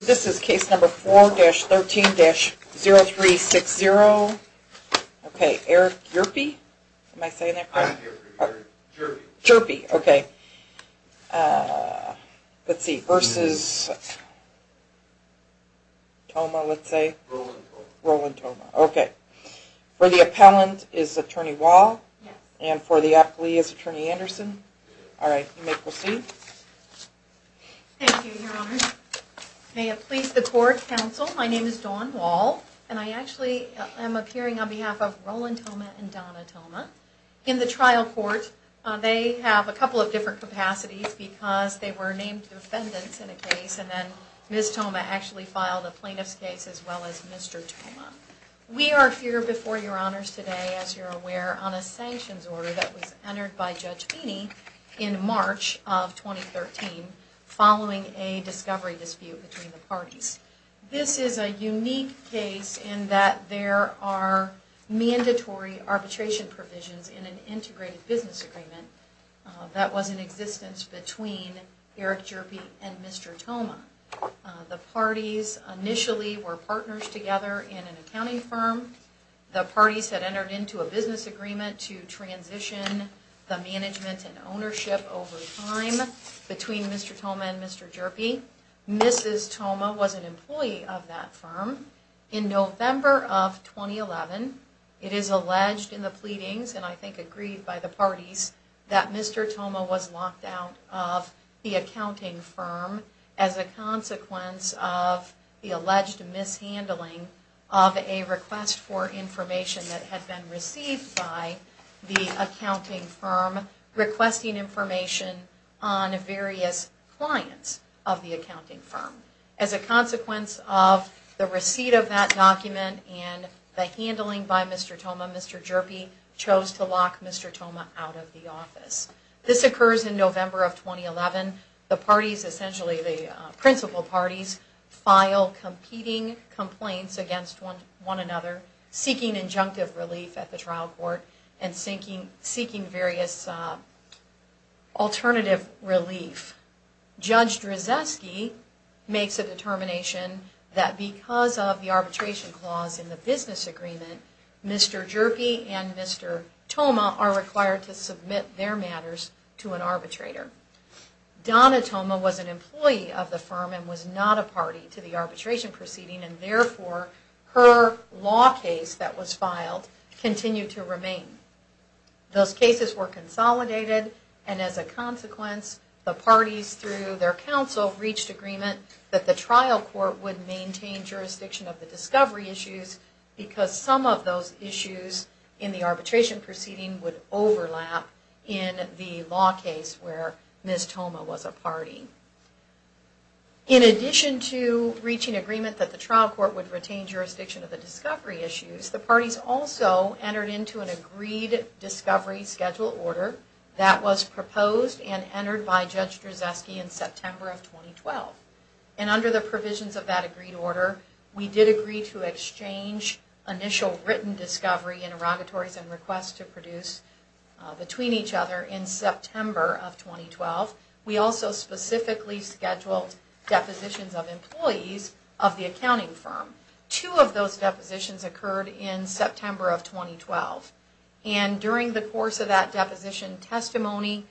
This is case number 4-13-0360, okay, Eric Yerpe? Am I saying that correct? I'm Eric Yerpe, Jherpe. Jherpe, okay. Let's see, versus Thomas, let's say? Roland Thomas. Roland Thomas, okay. For the appellant is Attorney Wahl, and for the appellee is Attorney Anderson. All right, you may proceed. Thank you, Your Honors. May it please the Court, Counsel, my name is Dawn Wahl, and I actually am appearing on behalf of Roland Thomas and Donna Thomas. In the trial court, they have a couple of different capacities because they were named defendants in a case, and then Ms. Thomas actually filed a plaintiff's case as well as Mr. Thomas. We are here before Your Honors today, as you're aware, on a sanctions order that was entered by Judge Beeney in March of 2013, following a discovery dispute between the parties. This is a unique case in that there are mandatory arbitration provisions in an integrated business agreement that was in existence between Eric Yerpe and Mr. Thomas. The parties initially were partners together in an accounting firm. The parties had entered into a business agreement to transition the management and ownership over time between Mr. Thomas and Mr. Yerpe. Mrs. Thomas was an employee of that firm. In November of 2011, it is alleged in the pleadings, and I think agreed by the parties, that Mr. Thomas was locked out of the accounting firm as a consequence of the alleged mishandling of a request for information that had been received by the accounting firm requesting information on various clients of the accounting firm. As a consequence of the receipt of that document and the handling by Mr. Thomas, Mr. Yerpe chose to lock Mr. Thomas out of the office. This occurs in November of 2011. The parties, essentially the principal parties, file competing complaints against one another, seeking injunctive relief at the trial court and seeking various alternative relief. Judge Drzeski makes a determination that because of the arbitration clause in the business agreement, Mr. Yerpe and Mr. Thomas are required to submit their matters to an arbitrator. Donna Thomas was an employee of the firm and was not a party to the arbitration proceeding, and therefore her law case that was filed continued to remain. Those cases were consolidated, and as a consequence, the parties, through their counsel, reached agreement that the trial court would maintain jurisdiction of the discovery issues because some of those issues in the arbitration proceeding would overlap in the law case where Ms. Thomas was a party. In addition to reaching agreement that the trial court would retain jurisdiction of the discovery issues, the parties also entered into an agreed discovery schedule order that was proposed and entered by Judge Drzeski in September of 2012. And under the provisions of that agreed order, we did agree to exchange initial written discovery interrogatories and requests to produce between each other in September of 2012. We also specifically scheduled depositions of employees of the accounting firm. Two of those depositions occurred in September of 2012, and during the course of that deposition testimony,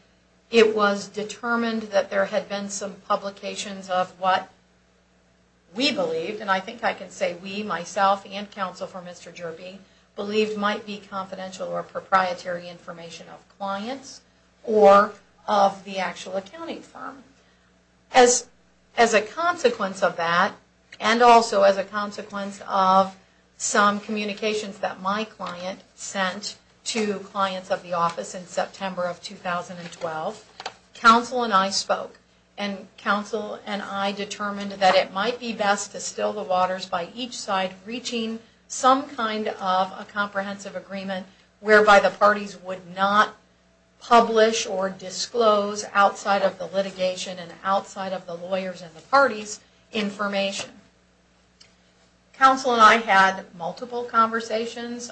it was determined that there had been some publications of what we believed, and I think I can say we, myself, and counsel for Mr. Yerpe, believed might be confidential or proprietary information of clients or of the actual accounting firm. As a consequence of that, and also as a consequence of some communications that my client sent to clients of the office in September of 2012, counsel and I spoke. And counsel and I determined that it might be best to still the waters by each side, reaching some kind of a comprehensive agreement whereby the parties would not publish or disclose outside of the litigation and outside of the lawyers and the parties information. Counsel and I had multiple conversations.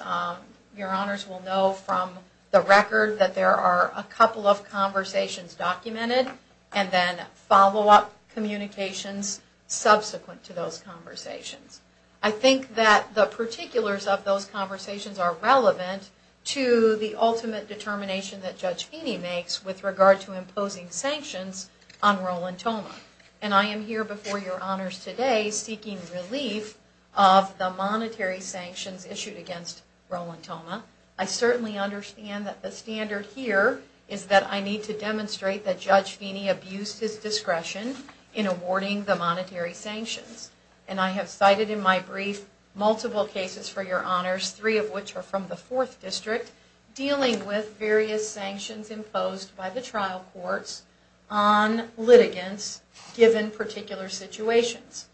Your honors will know from the record that there are a couple of conversations documented and then follow-up communications subsequent to those conversations. I think that the particulars of those conversations are relevant to the ultimate determination that Judge Feeney makes with regard to imposing sanctions on Rolantoma. And I am here before your honors today seeking relief of the monetary sanctions issued against Rolantoma. I certainly understand that the standard here is that I need to demonstrate that Judge Feeney abused his discretion in awarding the monetary sanctions. And I have cited in my brief multiple cases for your honors, three of which are from the Fourth District, dealing with various sanctions imposed by the trial courts on litigants given particular situations.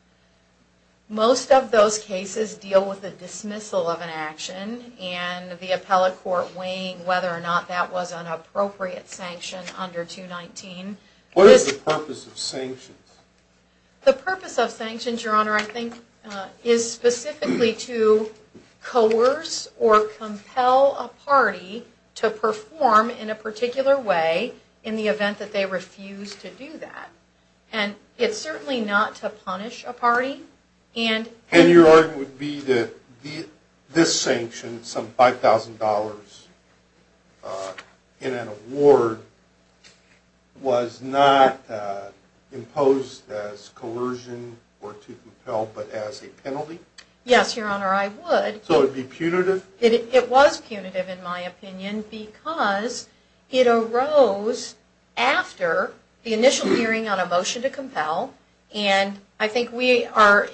Most of those cases deal with the dismissal of an action and the appellate court weighing whether or not that was an appropriate sanction under 219. What is the purpose of sanctions? The purpose of sanctions, your honor, I think is specifically to coerce or compel a party to perform in a particular way in the event that they refuse to do that. And it's certainly not to punish a party. And your argument would be that this sanction, some $5,000 in an award, was not imposed as coercion or to compel but as a penalty? Yes, your honor, I would. So it would be punitive? It was punitive in my opinion because it arose after the initial hearing on a motion to compel. And I think we are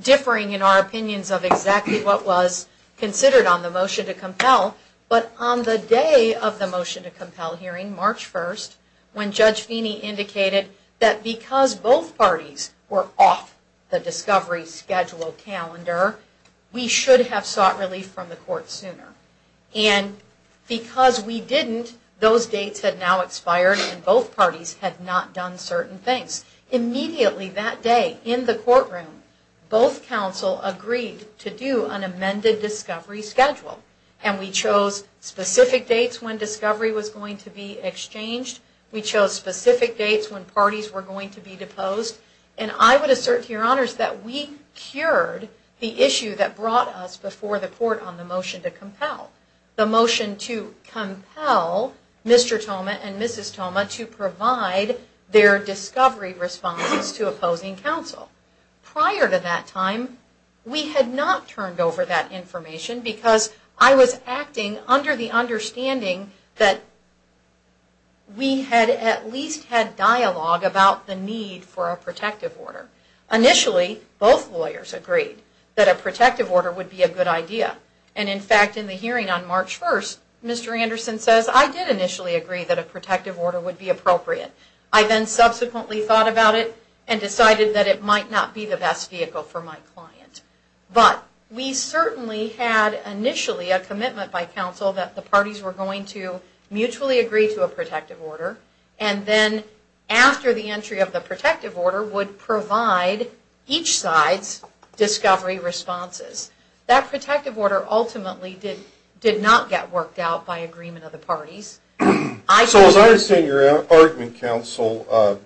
differing in our opinions of exactly what was considered on the motion to compel. But on the day of the motion to compel hearing, March 1st, when Judge Feeney indicated that because both parties were off the discovery schedule calendar, we should have sought relief from the court sooner. And because we didn't, those dates had now expired and both parties had not done certain things. Immediately that day in the courtroom, both counsel agreed to do an amended discovery schedule. And we chose specific dates when discovery was going to be exchanged. We chose specific dates when parties were going to be deposed. And I would assert to your honors that we cured the issue that brought us before the court on the motion to compel. The motion to compel Mr. Toma and Mrs. Toma to provide their discovery responses to opposing counsel. Prior to that time, we had not turned over that information because I was acting under the understanding that we had at least had dialogue about the need for a protective order. Initially, both lawyers agreed that a protective order would be a good idea. And in fact, in the hearing on March 1st, Mr. Anderson says, I did initially agree that a protective order would be appropriate. I then subsequently thought about it and decided that it might not be the best vehicle for my client. But we certainly had initially a commitment by counsel that the parties were going to mutually agree to a protective order. And then after the entry of the protective order would provide each side's discovery responses. That protective order ultimately did not get worked out by agreement of the parties. So as I understand your argument, counsel,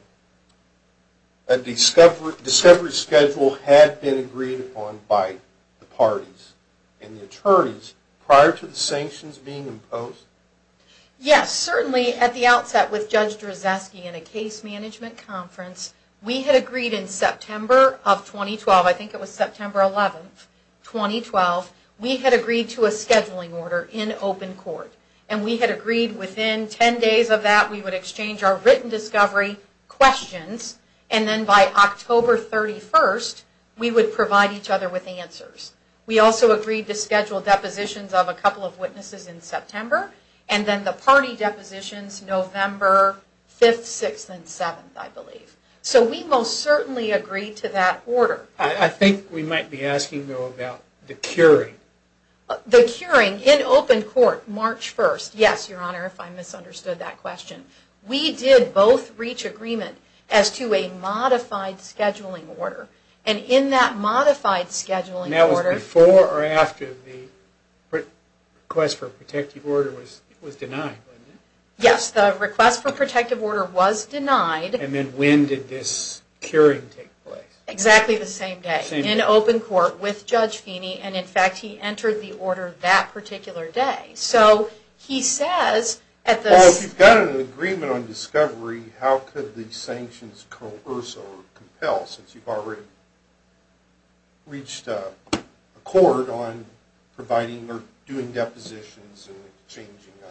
a discovery schedule had been agreed upon by the parties and the attorneys prior to the sanctions being imposed? Yes, certainly at the outset with Judge Drzeski in a case management conference. We had agreed in September of 2012, I think it was September 11th, 2012. We had agreed to a scheduling order in open court. And we had agreed within 10 days of that we would exchange our written discovery questions. And then by October 31st, we would provide each other with answers. We also agreed to schedule depositions of a couple of witnesses in September. And then the party depositions November 5th, 6th, and 7th, I believe. So we most certainly agreed to that order. I think we might be asking, though, about the curing. The curing in open court, March 1st. Yes, your honor, if I misunderstood that question. We did both reach agreement as to a modified scheduling order. And in that modified scheduling order. Before or after the request for a protective order was denied? Yes, the request for a protective order was denied. And then when did this curing take place? Exactly the same day. In open court with Judge Feeney. And in fact, he entered the order that particular day. So he says at the... Well, if you've got an agreement on discovery, how could the sanctions coerce or compel? Since you've already reached a court on providing or doing depositions and changing a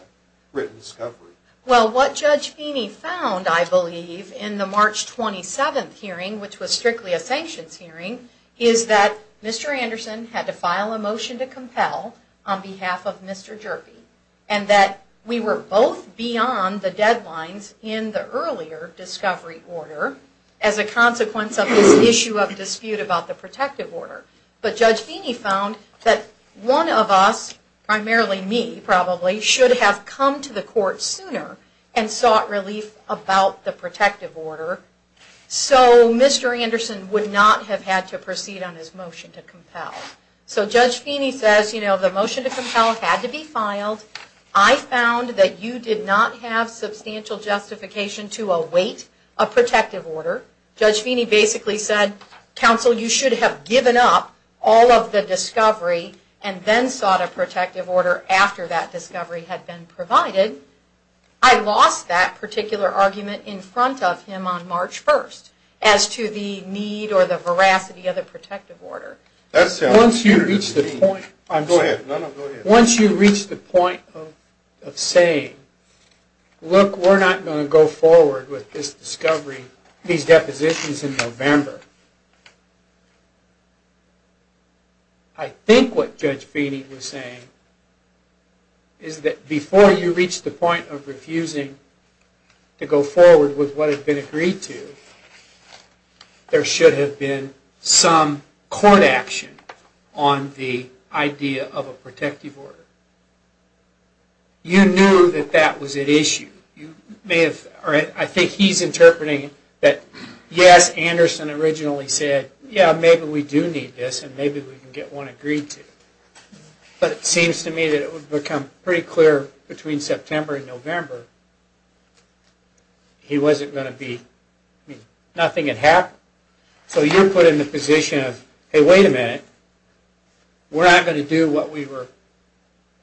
written discovery. Well, what Judge Feeney found, I believe, in the March 27th hearing, which was strictly a sanctions hearing, is that Mr. Anderson had to file a motion to compel on behalf of Mr. Jerby. And that we were both beyond the deadlines in the earlier discovery order as a consequence of this issue of dispute about the protective order. But Judge Feeney found that one of us, primarily me probably, should have come to the court sooner and sought relief about the protective order. So Mr. Anderson would not have had to proceed on his motion to compel. So Judge Feeney says, you know, the motion to compel had to be filed. I found that you did not have substantial justification to await a protective order. Judge Feeney basically said, counsel, you should have given up all of the discovery and then sought a protective order after that discovery had been provided. I lost that particular argument in front of him on March 1st as to the need or the veracity of the protective order. Once you reach the point of saying, look, we're not going to go forward with this discovery, these depositions in November, I think what Judge Feeney was saying is that before you reach the point of refusing to go forward with what had been agreed to, there should have been some court action on the idea of a protective order. You knew that that was at issue. I think he's interpreting that, yes, Anderson originally said, yeah, maybe we do need this and maybe we can get one agreed to. But it seems to me that it would become pretty clear between September and November that nothing had happened. So you're put in the position of, hey, wait a minute, we're not going to do what we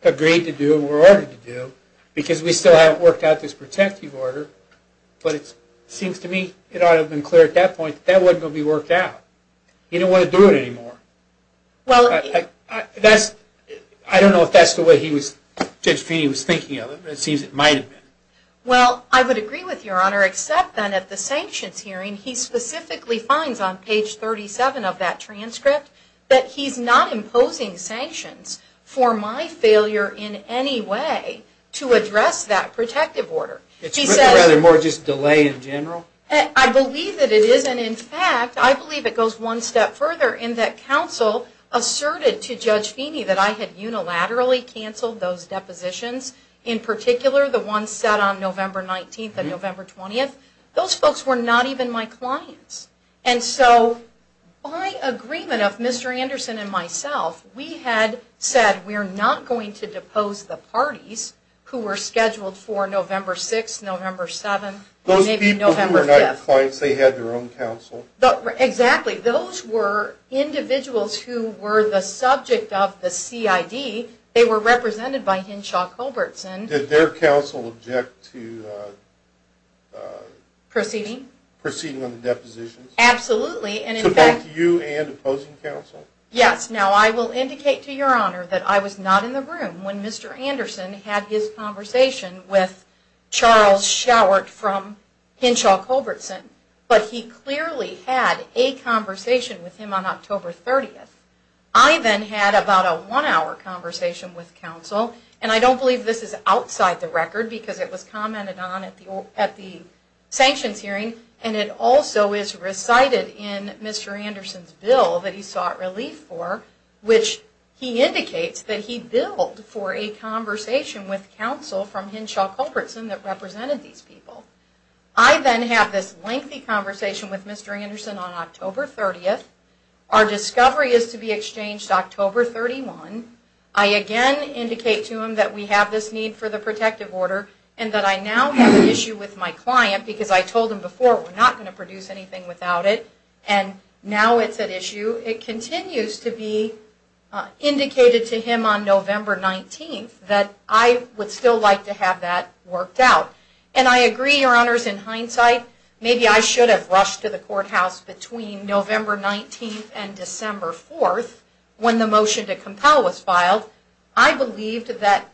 agreed to do and were ordered to do because we still haven't worked out this protective order. But it seems to me it ought to have been clear at that point that that wasn't going to be worked out. He didn't want to do it anymore. I don't know if that's the way Judge Feeney was thinking of it, but it seems it might have been. Well, I would agree with Your Honor, except then at the sanctions hearing, he specifically finds on page 37 of that transcript that he's not imposing sanctions for my failure in any way to address that protective order. It's more just delay in general? I believe that it is, and in fact, I believe it goes one step further in that counsel asserted to Judge Feeney that I had unilaterally cancelled those depositions, in particular the ones set on November 19th and November 20th. Those folks were not even my clients. And so by agreement of Mr. Anderson and myself, we had said we're not going to depose the parties who were scheduled for November 6th, November 7th, maybe November 5th. Those people who were not your clients, they had their own counsel? Exactly. Those were individuals who were the subject of the CID. They were represented by Hinshaw Culbertson. Did their counsel object to proceeding on the depositions? Absolutely. To both you and opposing counsel? Yes. Now I will indicate to Your Honor that I was not in the room when Mr. Anderson had his conversation with Charles Schauert from Hinshaw Culbertson, but he clearly had a conversation with him on October 30th. I then had about a one-hour conversation with counsel, and I don't believe this is outside the record because it was commented on at the sanctions hearing, and it also is recited in Mr. Anderson's bill that he sought relief for, which he indicates that he billed for a conversation with counsel from Hinshaw Culbertson that represented these people. I then had this lengthy conversation with Mr. Anderson on October 30th. Our discovery is to be exchanged October 31. I again indicate to him that we have this need for the protective order, and that I now have an issue with my client because I told him before we're not going to produce anything without it, and now it's an issue. It continues to be indicated to him on November 19th that I would still like to have that worked out. And I agree, Your Honors, in hindsight, maybe I should have rushed to the courthouse between November 19th and December 4th when the motion to compel was filed. I believed that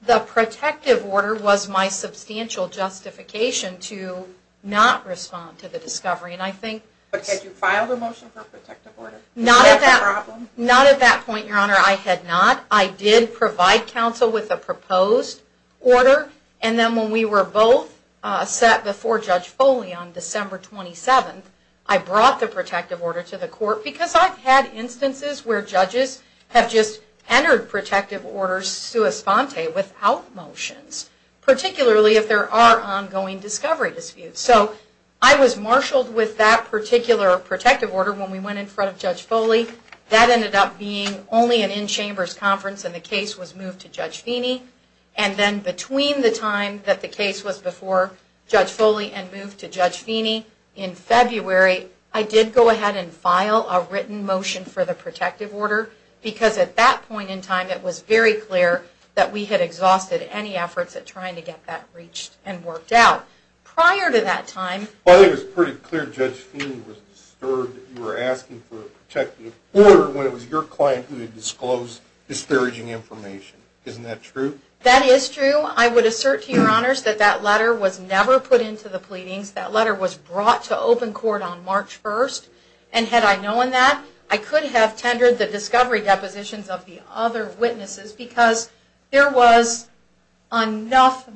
the protective order was my substantial justification to not respond to the discovery. But had you filed a motion for protective order? Not at that point, Your Honor, I had not. I did provide counsel with a proposed order, and then when we were both set before Judge Foley on December 27th, I brought the protective order to the court because I've had instances where judges have just entered protective orders sua sponte, without motions, particularly if there are ongoing discovery disputes. So I was marshaled with that particular protective order when we went in front of Judge Foley. That ended up being only an in-chambers conference, and the case was moved to Judge Feeney. And then between the time that the case was before Judge Foley and moved to Judge Feeney in February, I did go ahead and file a written motion for the protective order because at that point in time it was very clear that we had exhausted any efforts at trying to get that reached and worked out. Prior to that time... Well, I think it was pretty clear Judge Feeney was disturbed that you were asking for a protective order when it was your client who had disclosed disparaging information. Isn't that true? That is true. I would never put into the pleadings. That letter was brought to open court on March 1st. And had I known that, I could have tendered the discovery depositions of the other witnesses because there was enough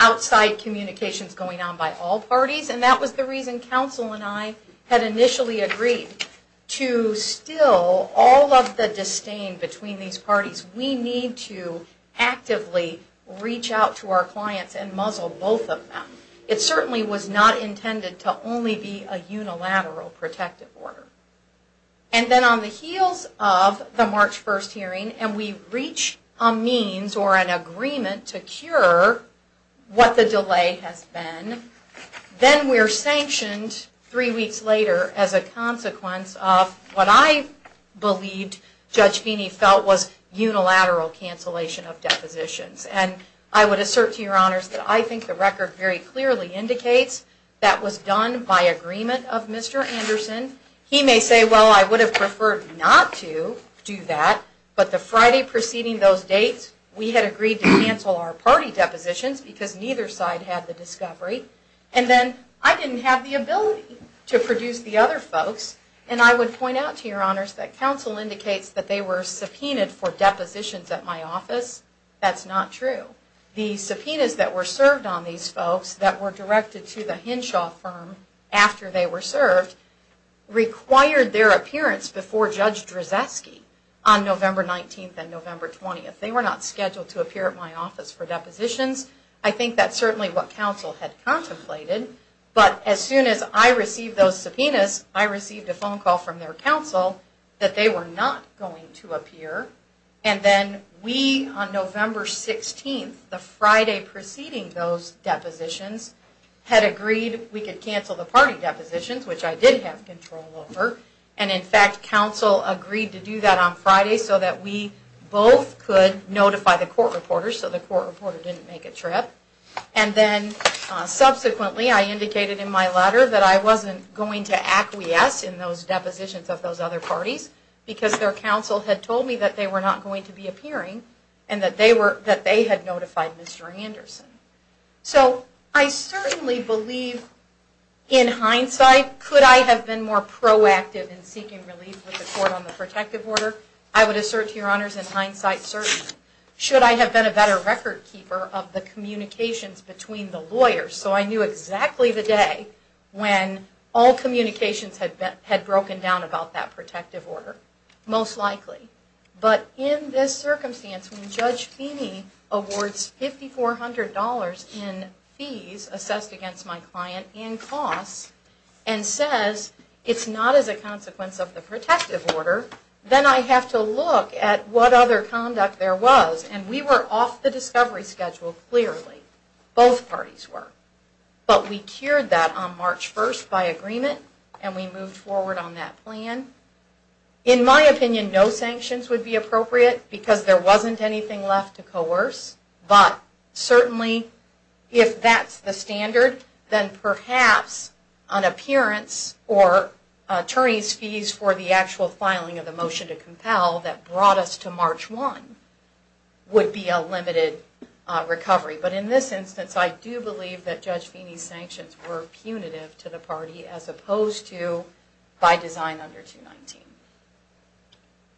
outside communications going on by all parties, and that was the reason counsel and I had initially agreed to still all of the disdain between these parties. We need to actively reach out to our clients and muzzle both of them. It certainly was not intended to only be a unilateral protective order. And then on the heels of the March 1st hearing and we reach a means or an agreement to cure what the delay has been, then we're sanctioned three weeks later as a consequence of what I believed Judge Feeney felt was unilateral cancellation of the discovery. I would assert to your honors that I think the record very clearly indicates that was done by agreement of Mr. Anderson. He may say, well, I would have preferred not to do that, but the Friday preceding those dates, we had agreed to cancel our party depositions because neither side had the discovery. And then I didn't have the ability to produce the other folks. And I would point out to your honors that counsel indicates that they were subpoenaed for depositions at my office. That's not true. The subpoenas that were served on these folks that were directed to the Henshaw firm after they were served required their appearance before Judge Drzeski on November 19th and November 20th. They were not scheduled to appear at my office for depositions. I think that's certainly what counsel had contemplated, but as soon as I received those subpoenas, I received a phone call from their counsel that they were not going to appear and then we on November 16th, the Friday preceding those depositions, had agreed we could cancel the party depositions, which I did have control over. And in fact counsel agreed to do that on Friday so that we both could notify the court reporter so the court reporter didn't make a trip. And then subsequently I indicated in my letter that I wasn't going to acquiesce in those depositions of those other parties because their counsel had told me that they were not going to be appearing and that they had notified Mr. Anderson. So I certainly believe in hindsight, could I have been more proactive in seeking relief with the court on the protective order? I would assert to your honors, in hindsight certainly. Should I have been a better record keeper of the communications between the lawyers so I knew exactly the day when all communications had broken down about that protective order? Most likely. But in this circumstance, when Judge Feeney awards $5,400 in fees assessed against my client and costs and says it's not as a consequence of the protective order, then I have to look at what other conduct there was. And we were off the discovery schedule clearly. Both parties were. But we cured that on March 1st by agreement and we moved forward on that plan. In my opinion, no sanctions would be appropriate because there wasn't anything left to coerce. But certainly if that's the standard, then perhaps an appearance or attorney's fees for the actual filing of the motion to compel that brought us to March 1 would be a limited recovery. But in this instance, I do believe that Judge Feeney's sanctions were punitive to the party as opposed to by design under 219.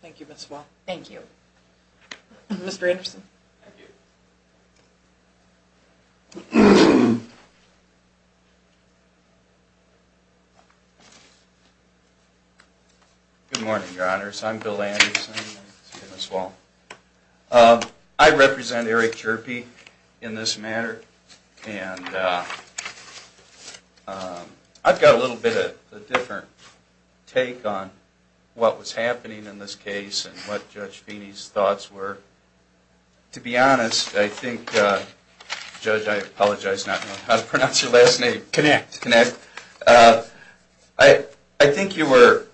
Thank you, Ms. Wall. Thank you. Mr. Anderson. Good morning, Your Honors. I'm Bill Anderson. I represent Eric Chirpy in this matter. And I've got a little bit of a different take on what was happening in this case and what Judge Feeney's thoughts were. To be honest, I think, Judge, I apologize, I don't know how to pronounce your last name. Connect. I think you were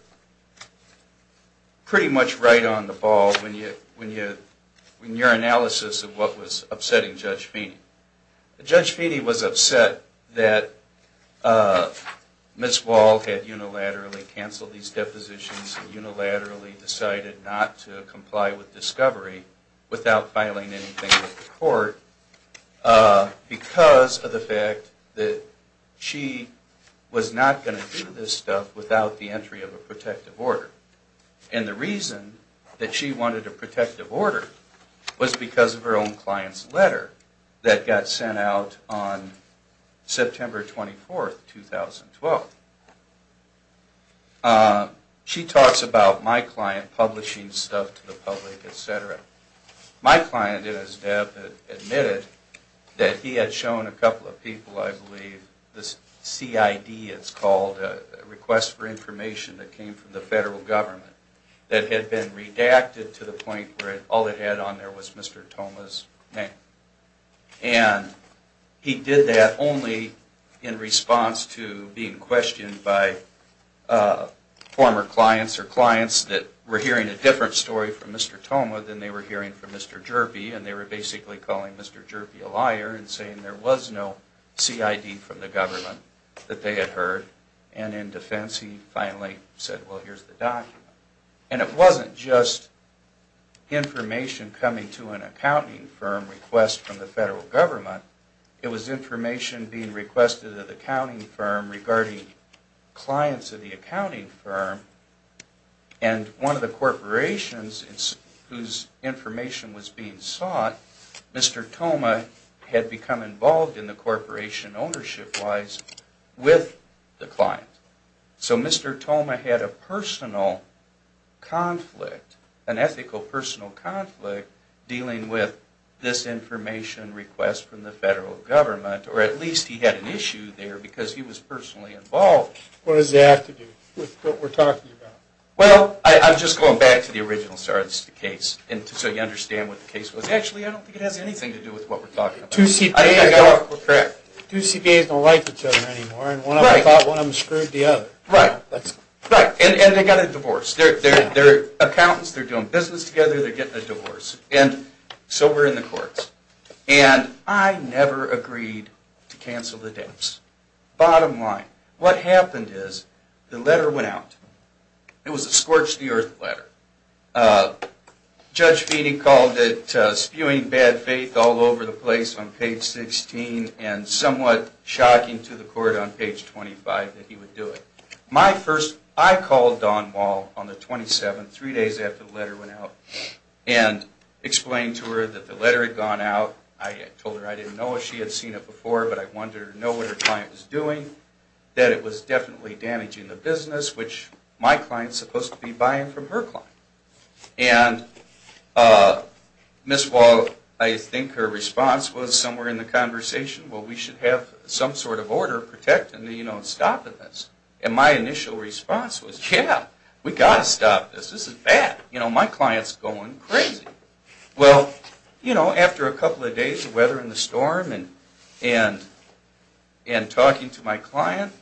pretty much right on the ball in your analysis of what was going on. Judge Feeney was upset that Ms. Wall had unilaterally canceled these depositions and unilaterally decided not to comply with discovery without filing anything with the court because of the fact that she was not going to do this stuff without the entry of a protective order. And the reason that she wanted a protective order was because of her own client's letter that got sent out on September 24, 2012. She talks about my client publishing stuff to the public, etc. My client, as Deb admitted, that he had shown a couple of people, I believe, the CID, it's called, a request for information that came from the federal government that had been redacted to the point where all it had on there was Mr. Toma's name. And he did that only in response to being questioned by former clients or clients that were hearing a different story from Mr. Toma than they were hearing from Mr. Jerby. And they were basically calling Mr. Jerby a liar and saying there was no CID from the government that they had heard. And in defense, he finally said, well, here's the just information coming to an accounting firm request from the federal government. It was information being requested of the accounting firm regarding clients of the accounting firm. And one of the corporations whose information was being sought, Mr. Toma had become involved in the corporation ownership-wise with the client. So Mr. Toma had a personal conflict, an ethical personal conflict dealing with this information request from the federal government or at least he had an issue there because he was personally involved. What does that have to do with what we're talking about? Well, I'm just going back to the original story of the case so you understand what the case was. Actually, I don't think it has anything to do with what we're talking about. Two CPAs don't like each other anymore and one of them thought one of them screwed the other. Right. And they got a divorce. They're accountants. They're doing business together. They're getting a divorce. And so we're in the courts. And I never agreed to cancel the dates. Bottom line. What happened is the letter went out. It was a scorch the earth letter. Judge Feeney called it spewing bad faith all over the place on page 16 and somewhat shocking to the court on page 25 that he would do it. I called Dawn Wall on the 27th three days after the letter went out and explained to her that the letter had gone out. I told her I didn't know if she had seen it before but I wanted her to know what her client was doing. That it was definitely damaging the business which my client is supposed to be buying from her client. And Ms. Wall, I think her response was somewhere in the conversation, well we should have some sort of order protecting, you know, stopping this. And my initial response was yeah, we got to stop this. This is bad. You know, my client's going crazy. Well, you know, after a couple of days of weather and the storm and talking to my client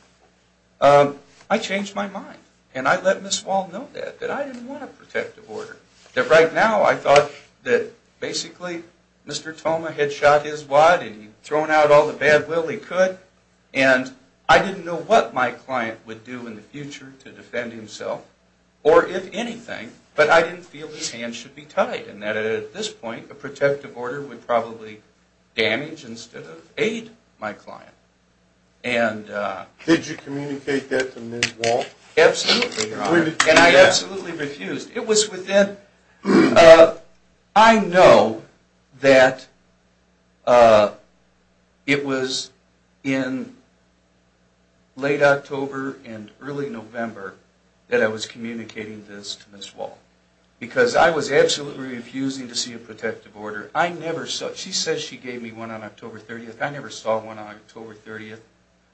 I changed my mind. And I let Ms. Wall know that. That I didn't want a protective order. That right now I thought that basically Mr. Thoma had shot his wad and he'd thrown out all the bad will he could. And I didn't know what my client would do in the future to defend himself or if anything but I didn't feel his hands should be tied. And that at this point a protective order would probably damage instead of aid my client. Did you communicate that to Ms. Wall? Absolutely, Your Honor. And I absolutely refused. It was within I know that it was in late October and early November that I was communicating this to Ms. Wall. Because I was absolutely refusing to see a protective order. I never saw, she said she gave me one on October 30th. I never saw one on October 30th.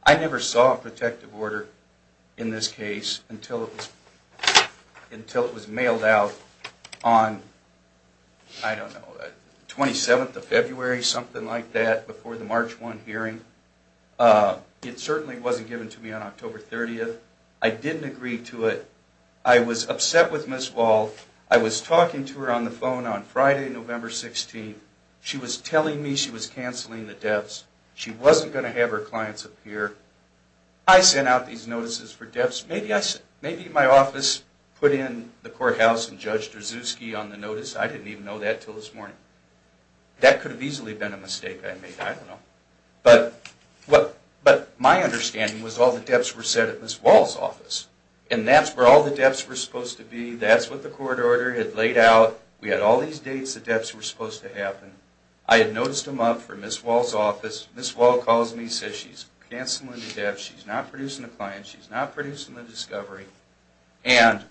I never saw a protective order in this case until it was until it was mailed out on I don't know, 27th of February, something like that before the March 1 hearing. It certainly wasn't given to me on October 30th. I didn't agree to it. I was upset with Ms. Wall. I was talking to her on the phone on Friday November 16th. She was telling me she was canceling the deaths. She wasn't going to have her clients appear. I sent out these notices for deaths. Maybe my office put in the courthouse and Judge Drzuski on the notice. I didn't even know that until this morning. That could have easily been a mistake I made. I don't know. But my understanding was all the deaths were set at Ms. Wall's office. And that's where all the deaths were supposed to be. That's what the court order had laid out. We had all these dates the deaths were supposed to happen. I had noticed them up for Ms. Wall's office. Ms. Wall calls me and says she's canceling the deaths. She's not producing the clients. She's not producing the discovery. And,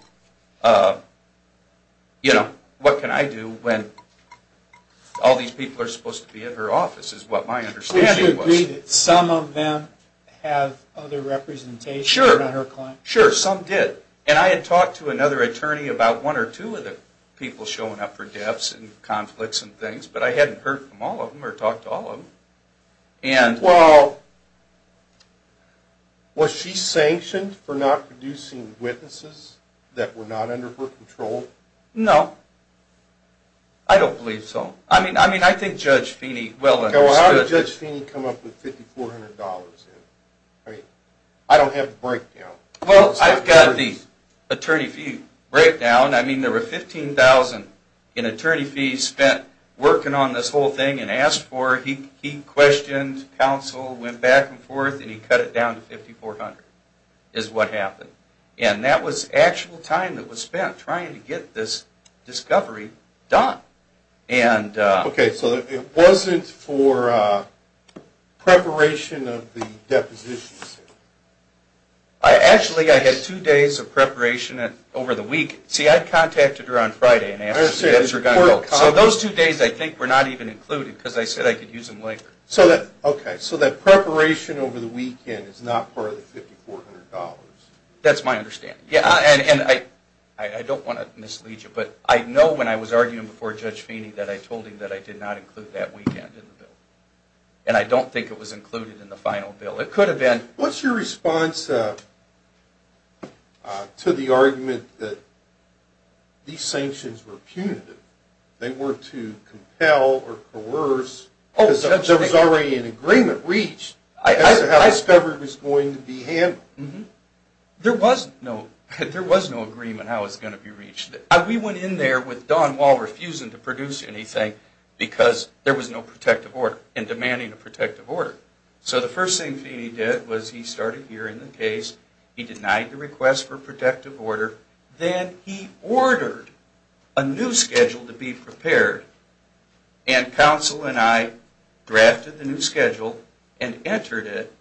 you know, what can I do when all these people are supposed to be at her office is what my understanding was. Did you agree that some of them have other representations than her clients? Sure. Some did. And I had talked to another attorney about one or two of the people showing up for deaths and conflicts and things. But I hadn't heard from all of them or talked to all of them. Well, was she sanctioned for not producing witnesses that were not under her control? No. I don't believe so. I mean, I think Judge Feeney well understood. Well, how did Judge Feeney come up with $5,400? I mean, I don't have the breakdown. Well, I've got the attorney fee breakdown. I mean, there were $15,000 in attorney fees spent working on this whole thing and asked for it. He questioned counsel, went back and forth and he cut it down to $5,400 is what happened. And that was actual time that was spent trying to get this discovery done. Okay. So it wasn't for preparation of the depositions? Actually, I had two days of preparation over the week. See, I contacted her on Friday and asked if she had a report. So those two days I think were not even included because I said I could use them later. Okay. So that preparation over the weekend is not part of the $5,400? That's my understanding. I don't want to mislead you, but I know when I was arguing before Judge Feeney that I told him that I did not include that weekend in the bill. And I don't think it was included in the final bill. It could have been. What's your response to the argument that these sanctions were punitive? They were to compel or coerce because there was already an agreement reached as to how the discovery was going to be handled. There was no agreement on how it was going to be reached. We went in there with Don Wall refusing to produce anything because there was no protective order and demanding a protective order. So the first thing Feeney did was he started hearing the case. He denied the request for protective order. Then he ordered a new schedule to be prepared. And counsel and I drafted the new schedule and entered it.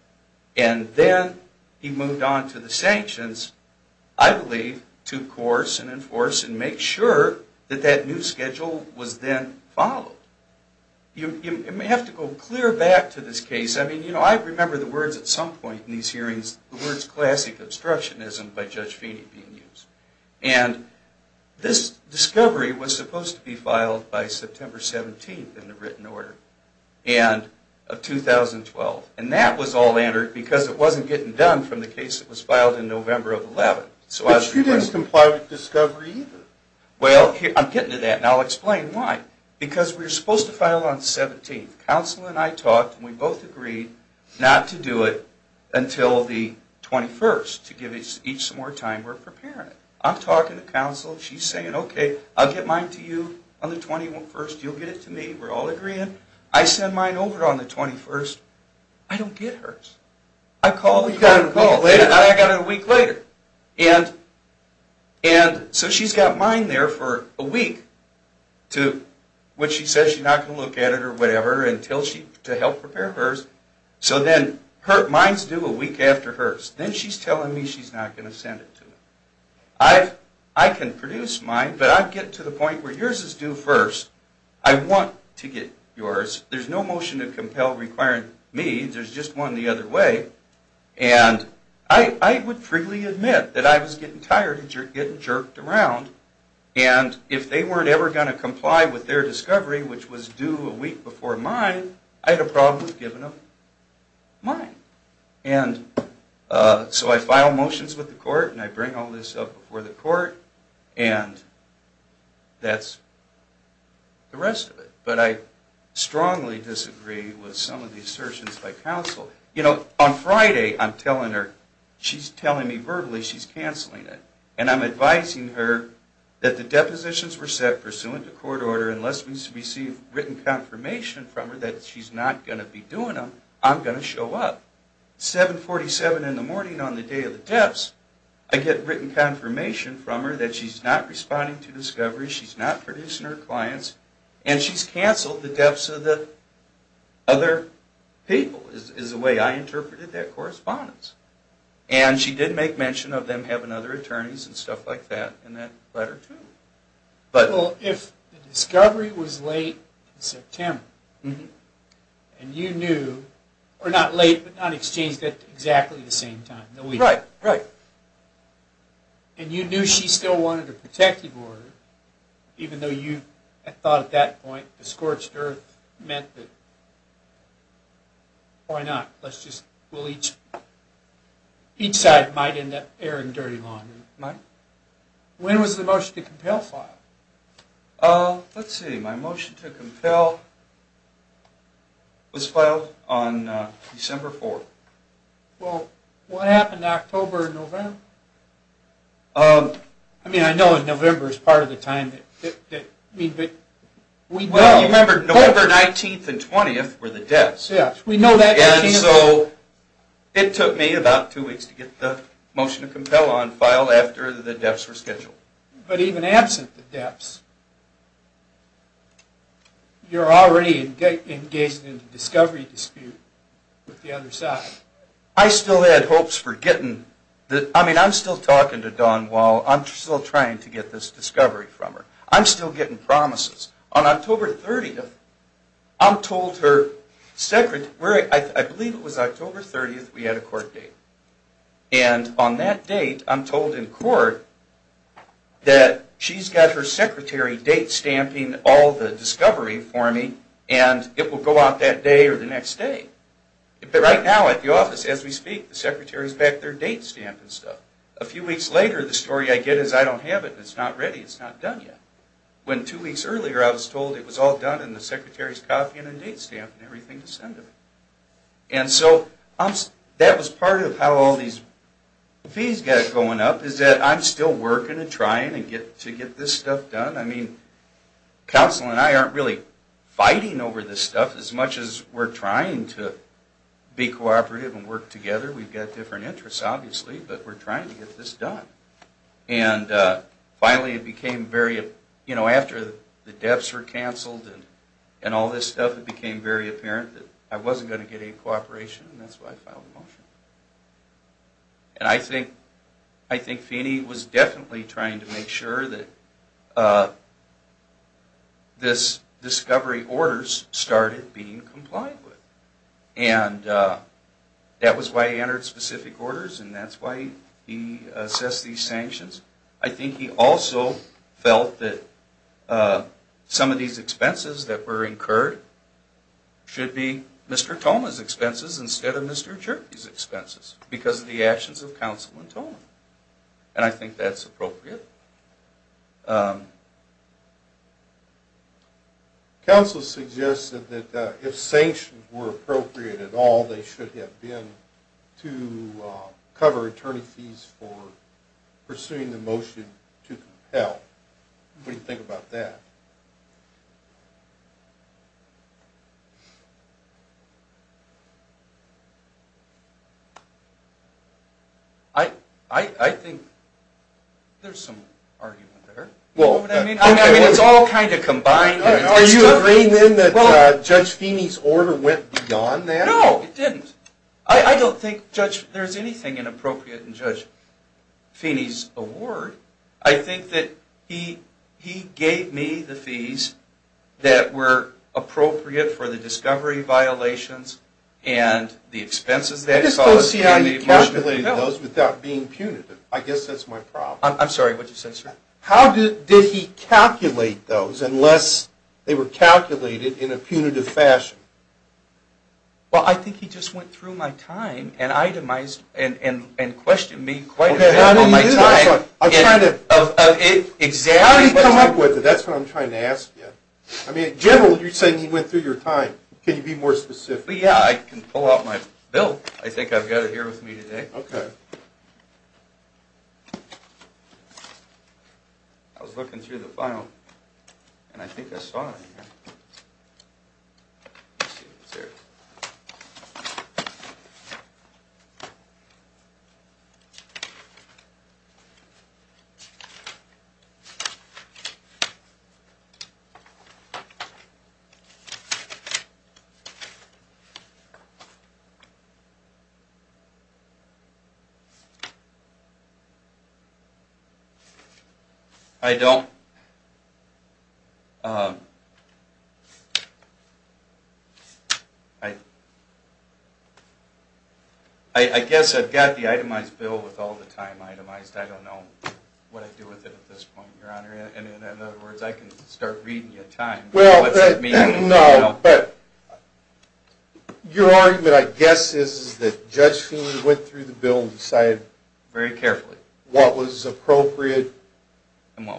And then he moved on to the sanctions, I believe, to coerce and enforce and make sure that that new schedule was then followed. You may have to go clear back to this case. I mean, I remember the words at some point in these hearings, the words classic obstructionism by Judge Feeney being used. And this discovery was supposed to be filed by September 17th in the written order of 2012. And that was all entered because it wasn't getting done from the case that was filed in November of 11. But you didn't comply with discovery either. Well, I'm getting to that and I'll explain why. Because we were supposed to file on 17th. Counsel and I talked and we both agreed not to do it until the 21st to give each some more time and we're preparing it. I'm talking to counsel. She's saying, okay, I'll get mine to you on the 21st. You'll get it to me. We're all agreeing. I send mine over on the 21st. I don't get hers. I got it a week later. And so she's got mine there for a week when she says she's not going to look at it or whatever to help prepare hers. So then mine's due a week after hers. Then she's telling me she's not going to send it to me. I can produce mine, but I get to the point where yours is due first. I want to get yours. There's no motion to compel requiring me. There's just one the other way. And I would freely admit that I was getting tired of getting jerked around and if they weren't ever going to comply with their discovery, which was due a week before mine, I'd have probably given them mine. And so I file motions with the court and I bring all this up before the court and that's the rest of it. But I strongly disagree with some of the assertions by counsel. You know, on Friday, I'm telling her, she's telling me verbally she's canceling it. And I'm advising her that the depositions were set pursuant to court order unless we receive written confirmation from her that she's not going to be doing them, I'm going to show up. 747 in the morning on the day of the deaths, I get written confirmation from her that she's not responding to discovery, she's not producing her clients, and she's canceled the deaths of the other people is the way I interpreted that correspondence. And she did make mention of them having other attorneys and stuff like that in that letter too. Well, if the discovery was late in September, and you knew, or not late, but not exchanged at exactly the same time. Right. And you knew she still wanted a protective order, even though you had thought at that point the scorched earth meant that why not? Let's just, we'll each each side might end up airing dirty laundry. When was the motion to compel filed? Let's see, my motion to compel was filed on December 4th. Well, what happened in October and November? I mean, I know in November is part of the time that we know. Well, you remember November 19th and 20th were the deaths. Yes, we know that. And so, it took me about two weeks to get the motion to compel on file after the deaths were You're already engaged in a discovery dispute with the other side. I still had hopes for getting, I mean, I'm still talking to Dawn while I'm still trying to get this discovery from her. I'm still getting promises. On October 30th, I'm told her I believe it was October 30th we had a court date. And on that date, I'm told in court that she's got her secretary date stamping all the discovery for me and it will go out that day or the next day. But right now at the office as we speak, the secretary's back there date stamping stuff. A few weeks later, the story I get is I don't have it. It's not ready. It's not done yet. When two weeks earlier, I was told it was all done and the secretary's copying and date stamping everything to send to me. And so, that was part of how all these fees got going up is that I'm still working and trying to get this stuff done. I mean, counsel and I aren't really fighting over this stuff as much as we're trying to be cooperative and work together. We've got different interests, obviously, but we're trying to get this done. And finally, it became very you know, after the deaths were canceled and all this stuff, it became very apparent that I wasn't going to get any cooperation and that's why I filed a motion. And I think Feeney was definitely trying to make sure that this discovery orders started being complied with. And that was why he entered specific orders and that's why he assessed these sanctions. I think he also felt that some of these expenses that were incurred should be Mr. Thoma's expenses instead of Mr. Cherokee's expenses because of the actions of counsel and Thoma. And I think that's appropriate. Counsel suggested that if sanctions were appropriate at all they should have been to cover attorney fees for pursuing the motion to compel. What do you think about that? I think there's some argument there. It's all kind of combined. Are you agreeing then that Judge Feeney's order went beyond that? No, it didn't. I don't think there's anything inappropriate in Judge Feeney's award. I think that he gave me the fees that were appropriate for the discovery violations and the expenses. I just don't see how he calculated those without being punitive. I guess that's my problem. I'm sorry, what did you say, sir? How did he calculate those unless they were calculated in a punitive fashion? Well, I think he just went through my time and itemized and questioned me quite a bit on my time. How did he come up with it? That's what I'm trying to ask you. I mean, in general, you're saying he went through your time. Can you be more specific? Yeah, I can pull out my bill. I think I've got it here with me today. I was looking through the file and I think I saw it. I don't... I guess I've got the itemized bill with all the time itemized. I don't know what I do with it at this point, Your Honor. In other words, I can start reading your time. Your argument, I guess, is that Judge Feeney went through the bill and decided what was appropriate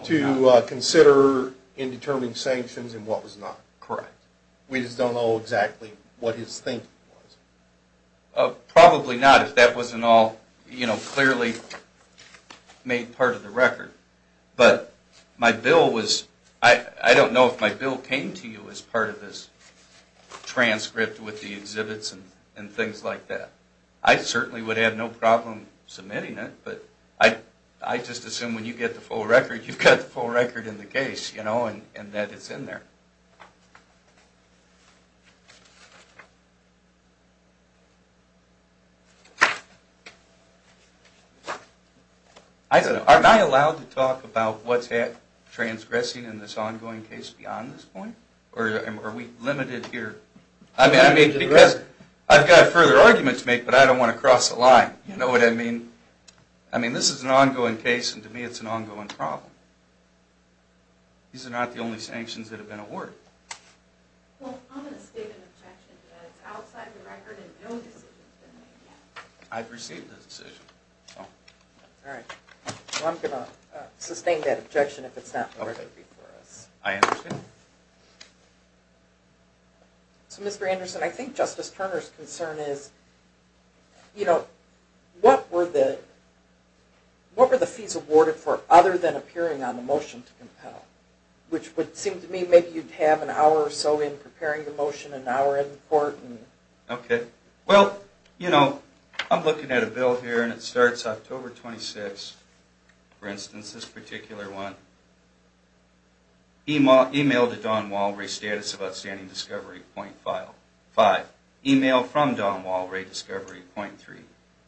to consider in determining sanctions and what was not. Correct. We just don't know exactly what his thinking was. Probably not, if that wasn't all clearly made part of the record. But my bill was... I don't know if my bill came to you as part of this transcript with the exhibits and things like that. I certainly would have no problem submitting it, but I just assume when you get the full record you've got the full record in the case and that it's in there. I don't know. Aren't I allowed to talk about what's transgressing in this ongoing case beyond this point? Or are we limited here? I've got further arguments to make, but I don't want to cross a line. You know what I mean? This is an ongoing case and to me it's an ongoing problem. These are not the only sanctions that have been awarded. Well, I'm going to state an objection to that. It's outside the record and no decision has been made yet. I've received a decision. Alright. Well, I'm going to sustain that objection if it's not worthy for us. I understand. So, Mr. Anderson, I think Justice Turner's concern is you know, what were the penalties if he's awarded for other than appearing on the motion to compel? Which would seem to me maybe you'd have an hour or so in preparing the motion, an hour in court. Okay. Well, you know, I'm looking at a bill here and it starts October 26th. For instance, this particular one. Email to Don Walray, status of outstanding discovery, point file. Five. Email from Don Walray, discovery, point three.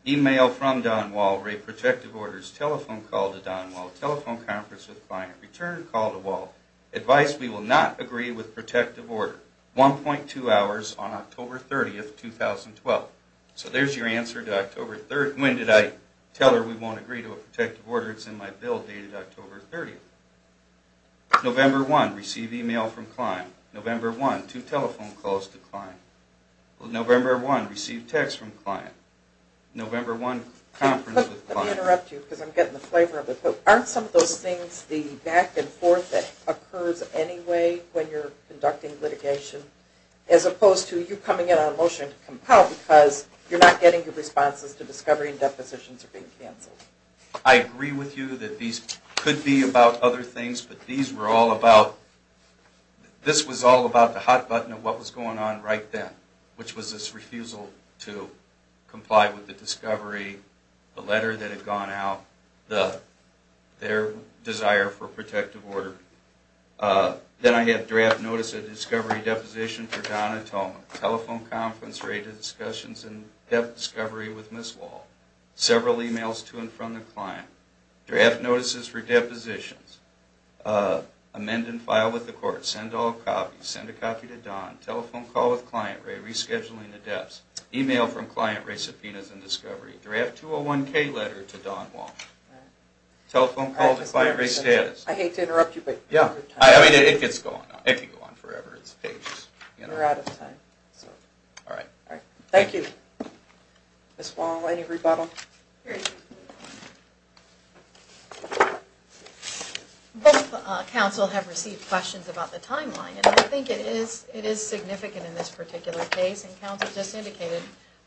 Email from Don Walray, protective orders, telephone call to Don Walray, telephone conference with client, return call to Walray, advice we will not agree with protective order. 1.2 hours on October 30th, 2012. So there's your answer to October 30th. When did I tell her we won't agree to a protective order? It's in my bill dated October 30th. November 1, receive email from client. November 1, two telephone calls to client. November 1, receive text from client. November 1, conference with client. Let me interrupt you because I'm getting the flavor of it. Aren't some of those things the back and forth that occurs anyway when you're conducting litigation? As opposed to you coming in on a motion to compel because you're not getting your responses to discovery and depositions are being canceled. I agree with you that these could be about other things, but these were all about, this was all about the hot button of what was going on right then, which was this refusal to comply with the discovery, the letter that had gone out, their desire for a protective order. Then I have draft notice of discovery deposition for Donna Tolman. Telephone conference, rated discussions, and depth discovery with Ms. Wall. Several emails to and from the client. Draft notices for depositions. Amend and file with the court. Send all copies. Send a copy to Don. Telephone call with client. Rescheduling the depths. Email from client. Subpoenas and discovery. Draft 201K letter to Don Wall. Telephone call to client rate status. I hate to interrupt you, but you're out of time. It could go on forever. It's pages. Thank you. Ms. Wall, any rebuttal? Both counsel have received questions about the timeline, and I think it is significant in this particular case, and counsel just indicated,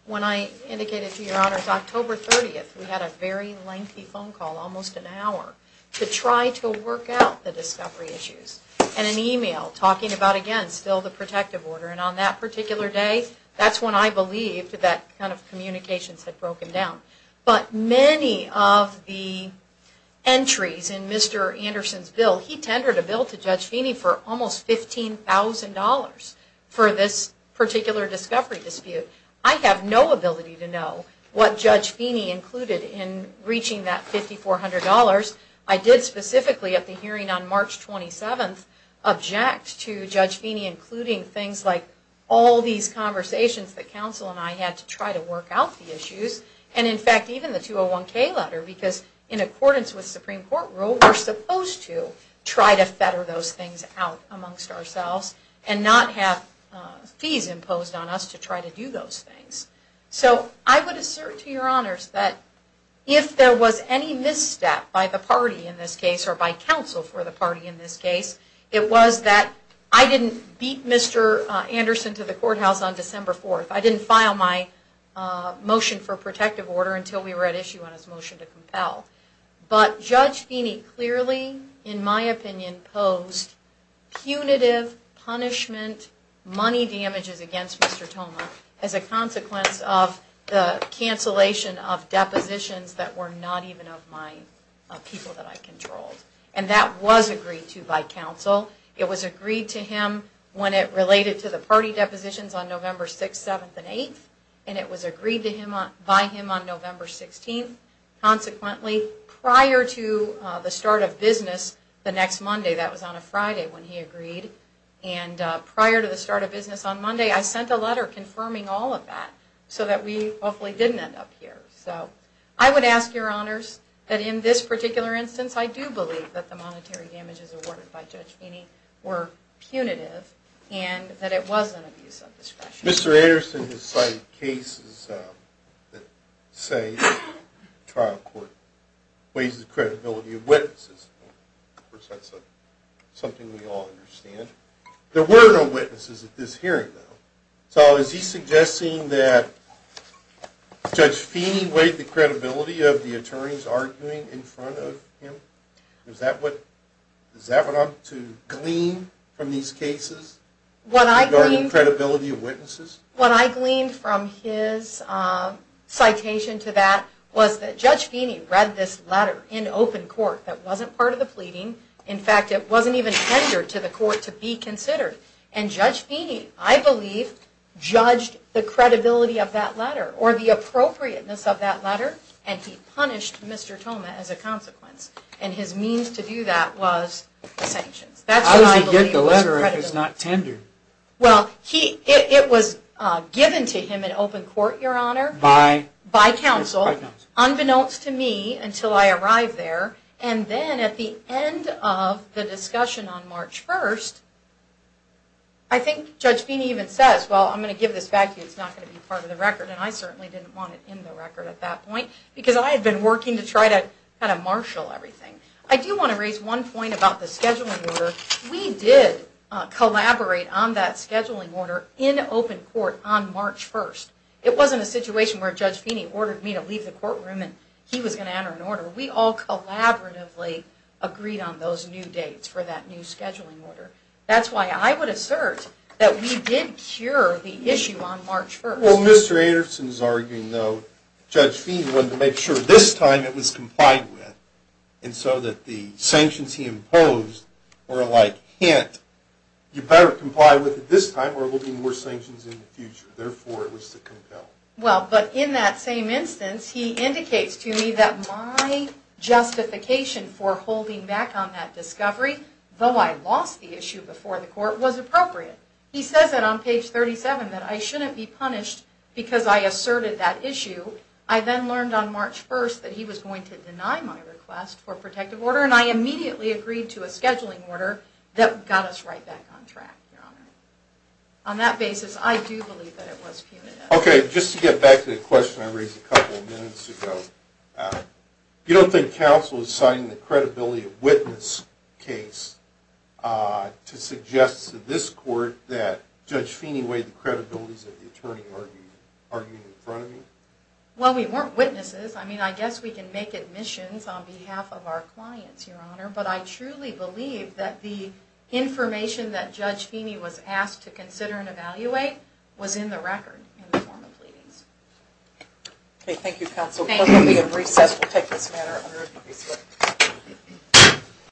when I indicated to your honors, October 30th, we had a very lengthy phone call, almost an hour, to try to work out the discovery issues. And an email talking about, again, still the protective order, and on that particular day, that's when I believed that kind of communications had broken down. But many of the entries in Mr. Anderson's bill, he tendered a bill to Judge Feeney for almost $15,000 for this particular discovery dispute. I have no ability to know what Judge Feeney included in reaching that $5,400. I did specifically, at the hearing on March 27th, object to Judge Feeney including things like all these conversations that counsel and I had to try to work out the issues, and in fact, even the 201K letter, because in accordance with Supreme Court rule, we're supposed to try to fetter those things out amongst ourselves, and not have fees imposed on us to try to do those things. So I would assert to your honors that if there was any misstep by the party in this case, or by counsel for the party in this case, it was that I didn't beat Mr. Anderson to the courthouse on December 4th. I didn't file my motion for protective order until we were at issue on his motion to compel. But Judge Feeney clearly, in my opinion, posed punitive punishment money damages against Mr. Thoma as a consequence of the cancellation of depositions that were not even of my people that I controlled. And that was agreed to by counsel. It was agreed to him when it related to the party depositions on November 6th, 7th, and 8th. And it was agreed to by him on November 16th. Consequently, prior to the start of business the next Monday, that was on a Friday when he agreed, and prior to the start of business on Monday, I sent a letter confirming all of that so that we hopefully didn't end up here. So I would ask your honors that in this particular instance, I do believe that the monetary damages awarded by Judge Feeney were not punitive, and that it was an abuse of discretion. Mr. Anderson has cited cases that say the trial court weighs the credibility of witnesses. Of course, that's something we all understand. There were no witnesses at this hearing, though. So is he suggesting that Judge Feeney weighed the credibility of the attorneys arguing in front of him? Is that what I'm to glean from these cases regarding credibility of witnesses? What I gleaned from his citation to that was that Judge Feeney read this letter in open court that wasn't part of the pleading. In fact, it wasn't even tendered to the court to be considered. And Judge Feeney, I believe, judged the credibility of that letter, or the appropriateness of that letter, and he punished Mr. Thoma as a consequence. And his means to do that was sanctions. That's what I believe was credibility. Well, it was given to him in open court, your honor, by counsel, unbeknownst to me until I arrived there. And then at the end of the discussion on March 1st, I think Judge Feeney even says, well, I'm going to give this back to you. It's not going to be part of the record. And I certainly didn't want it in the record at that point, because I had been working to try to marshal everything. I do want to raise one point about the scheduling order. We did collaborate on that scheduling order in open court on March 1st. It wasn't a situation where Judge Feeney ordered me to leave the courtroom and he was going to enter an order. We all collaboratively agreed on those new dates for that new scheduling order. That's why I would assert that we did cure the issue on March 1st. Well, Mr. Anderson is arguing, though, Judge Feeney wanted to make sure this time it was complied with, and so that the sanctions he imposed were like, hint, you better comply with it this time or there will be more sanctions in the future. Therefore, it was to compel. Well, but in that same instance, he indicates to me that my justification for holding back on that discovery, though I lost the issue before the court, was appropriate. He says that on page 37 that I shouldn't be punished because I asserted that issue. I then learned on March 1st that he was going to deny my request for protective order, and I immediately agreed to a scheduling order that got us right back on track, Your Honor. On that basis, I do believe that it was punitive. Okay, just to get back to the question I raised a couple of minutes ago. You don't think counsel is citing the credibility of witness case to suggest to this in any way the credibility of the attorney arguing in front of you? Well, we weren't witnesses. I mean, I guess we can make admissions on behalf of our clients, Your Honor, but I truly believe that the information that Judge Feeney was asked to consider and evaluate was in the record in the form of pleadings. Okay, thank you, counsel. Thank you.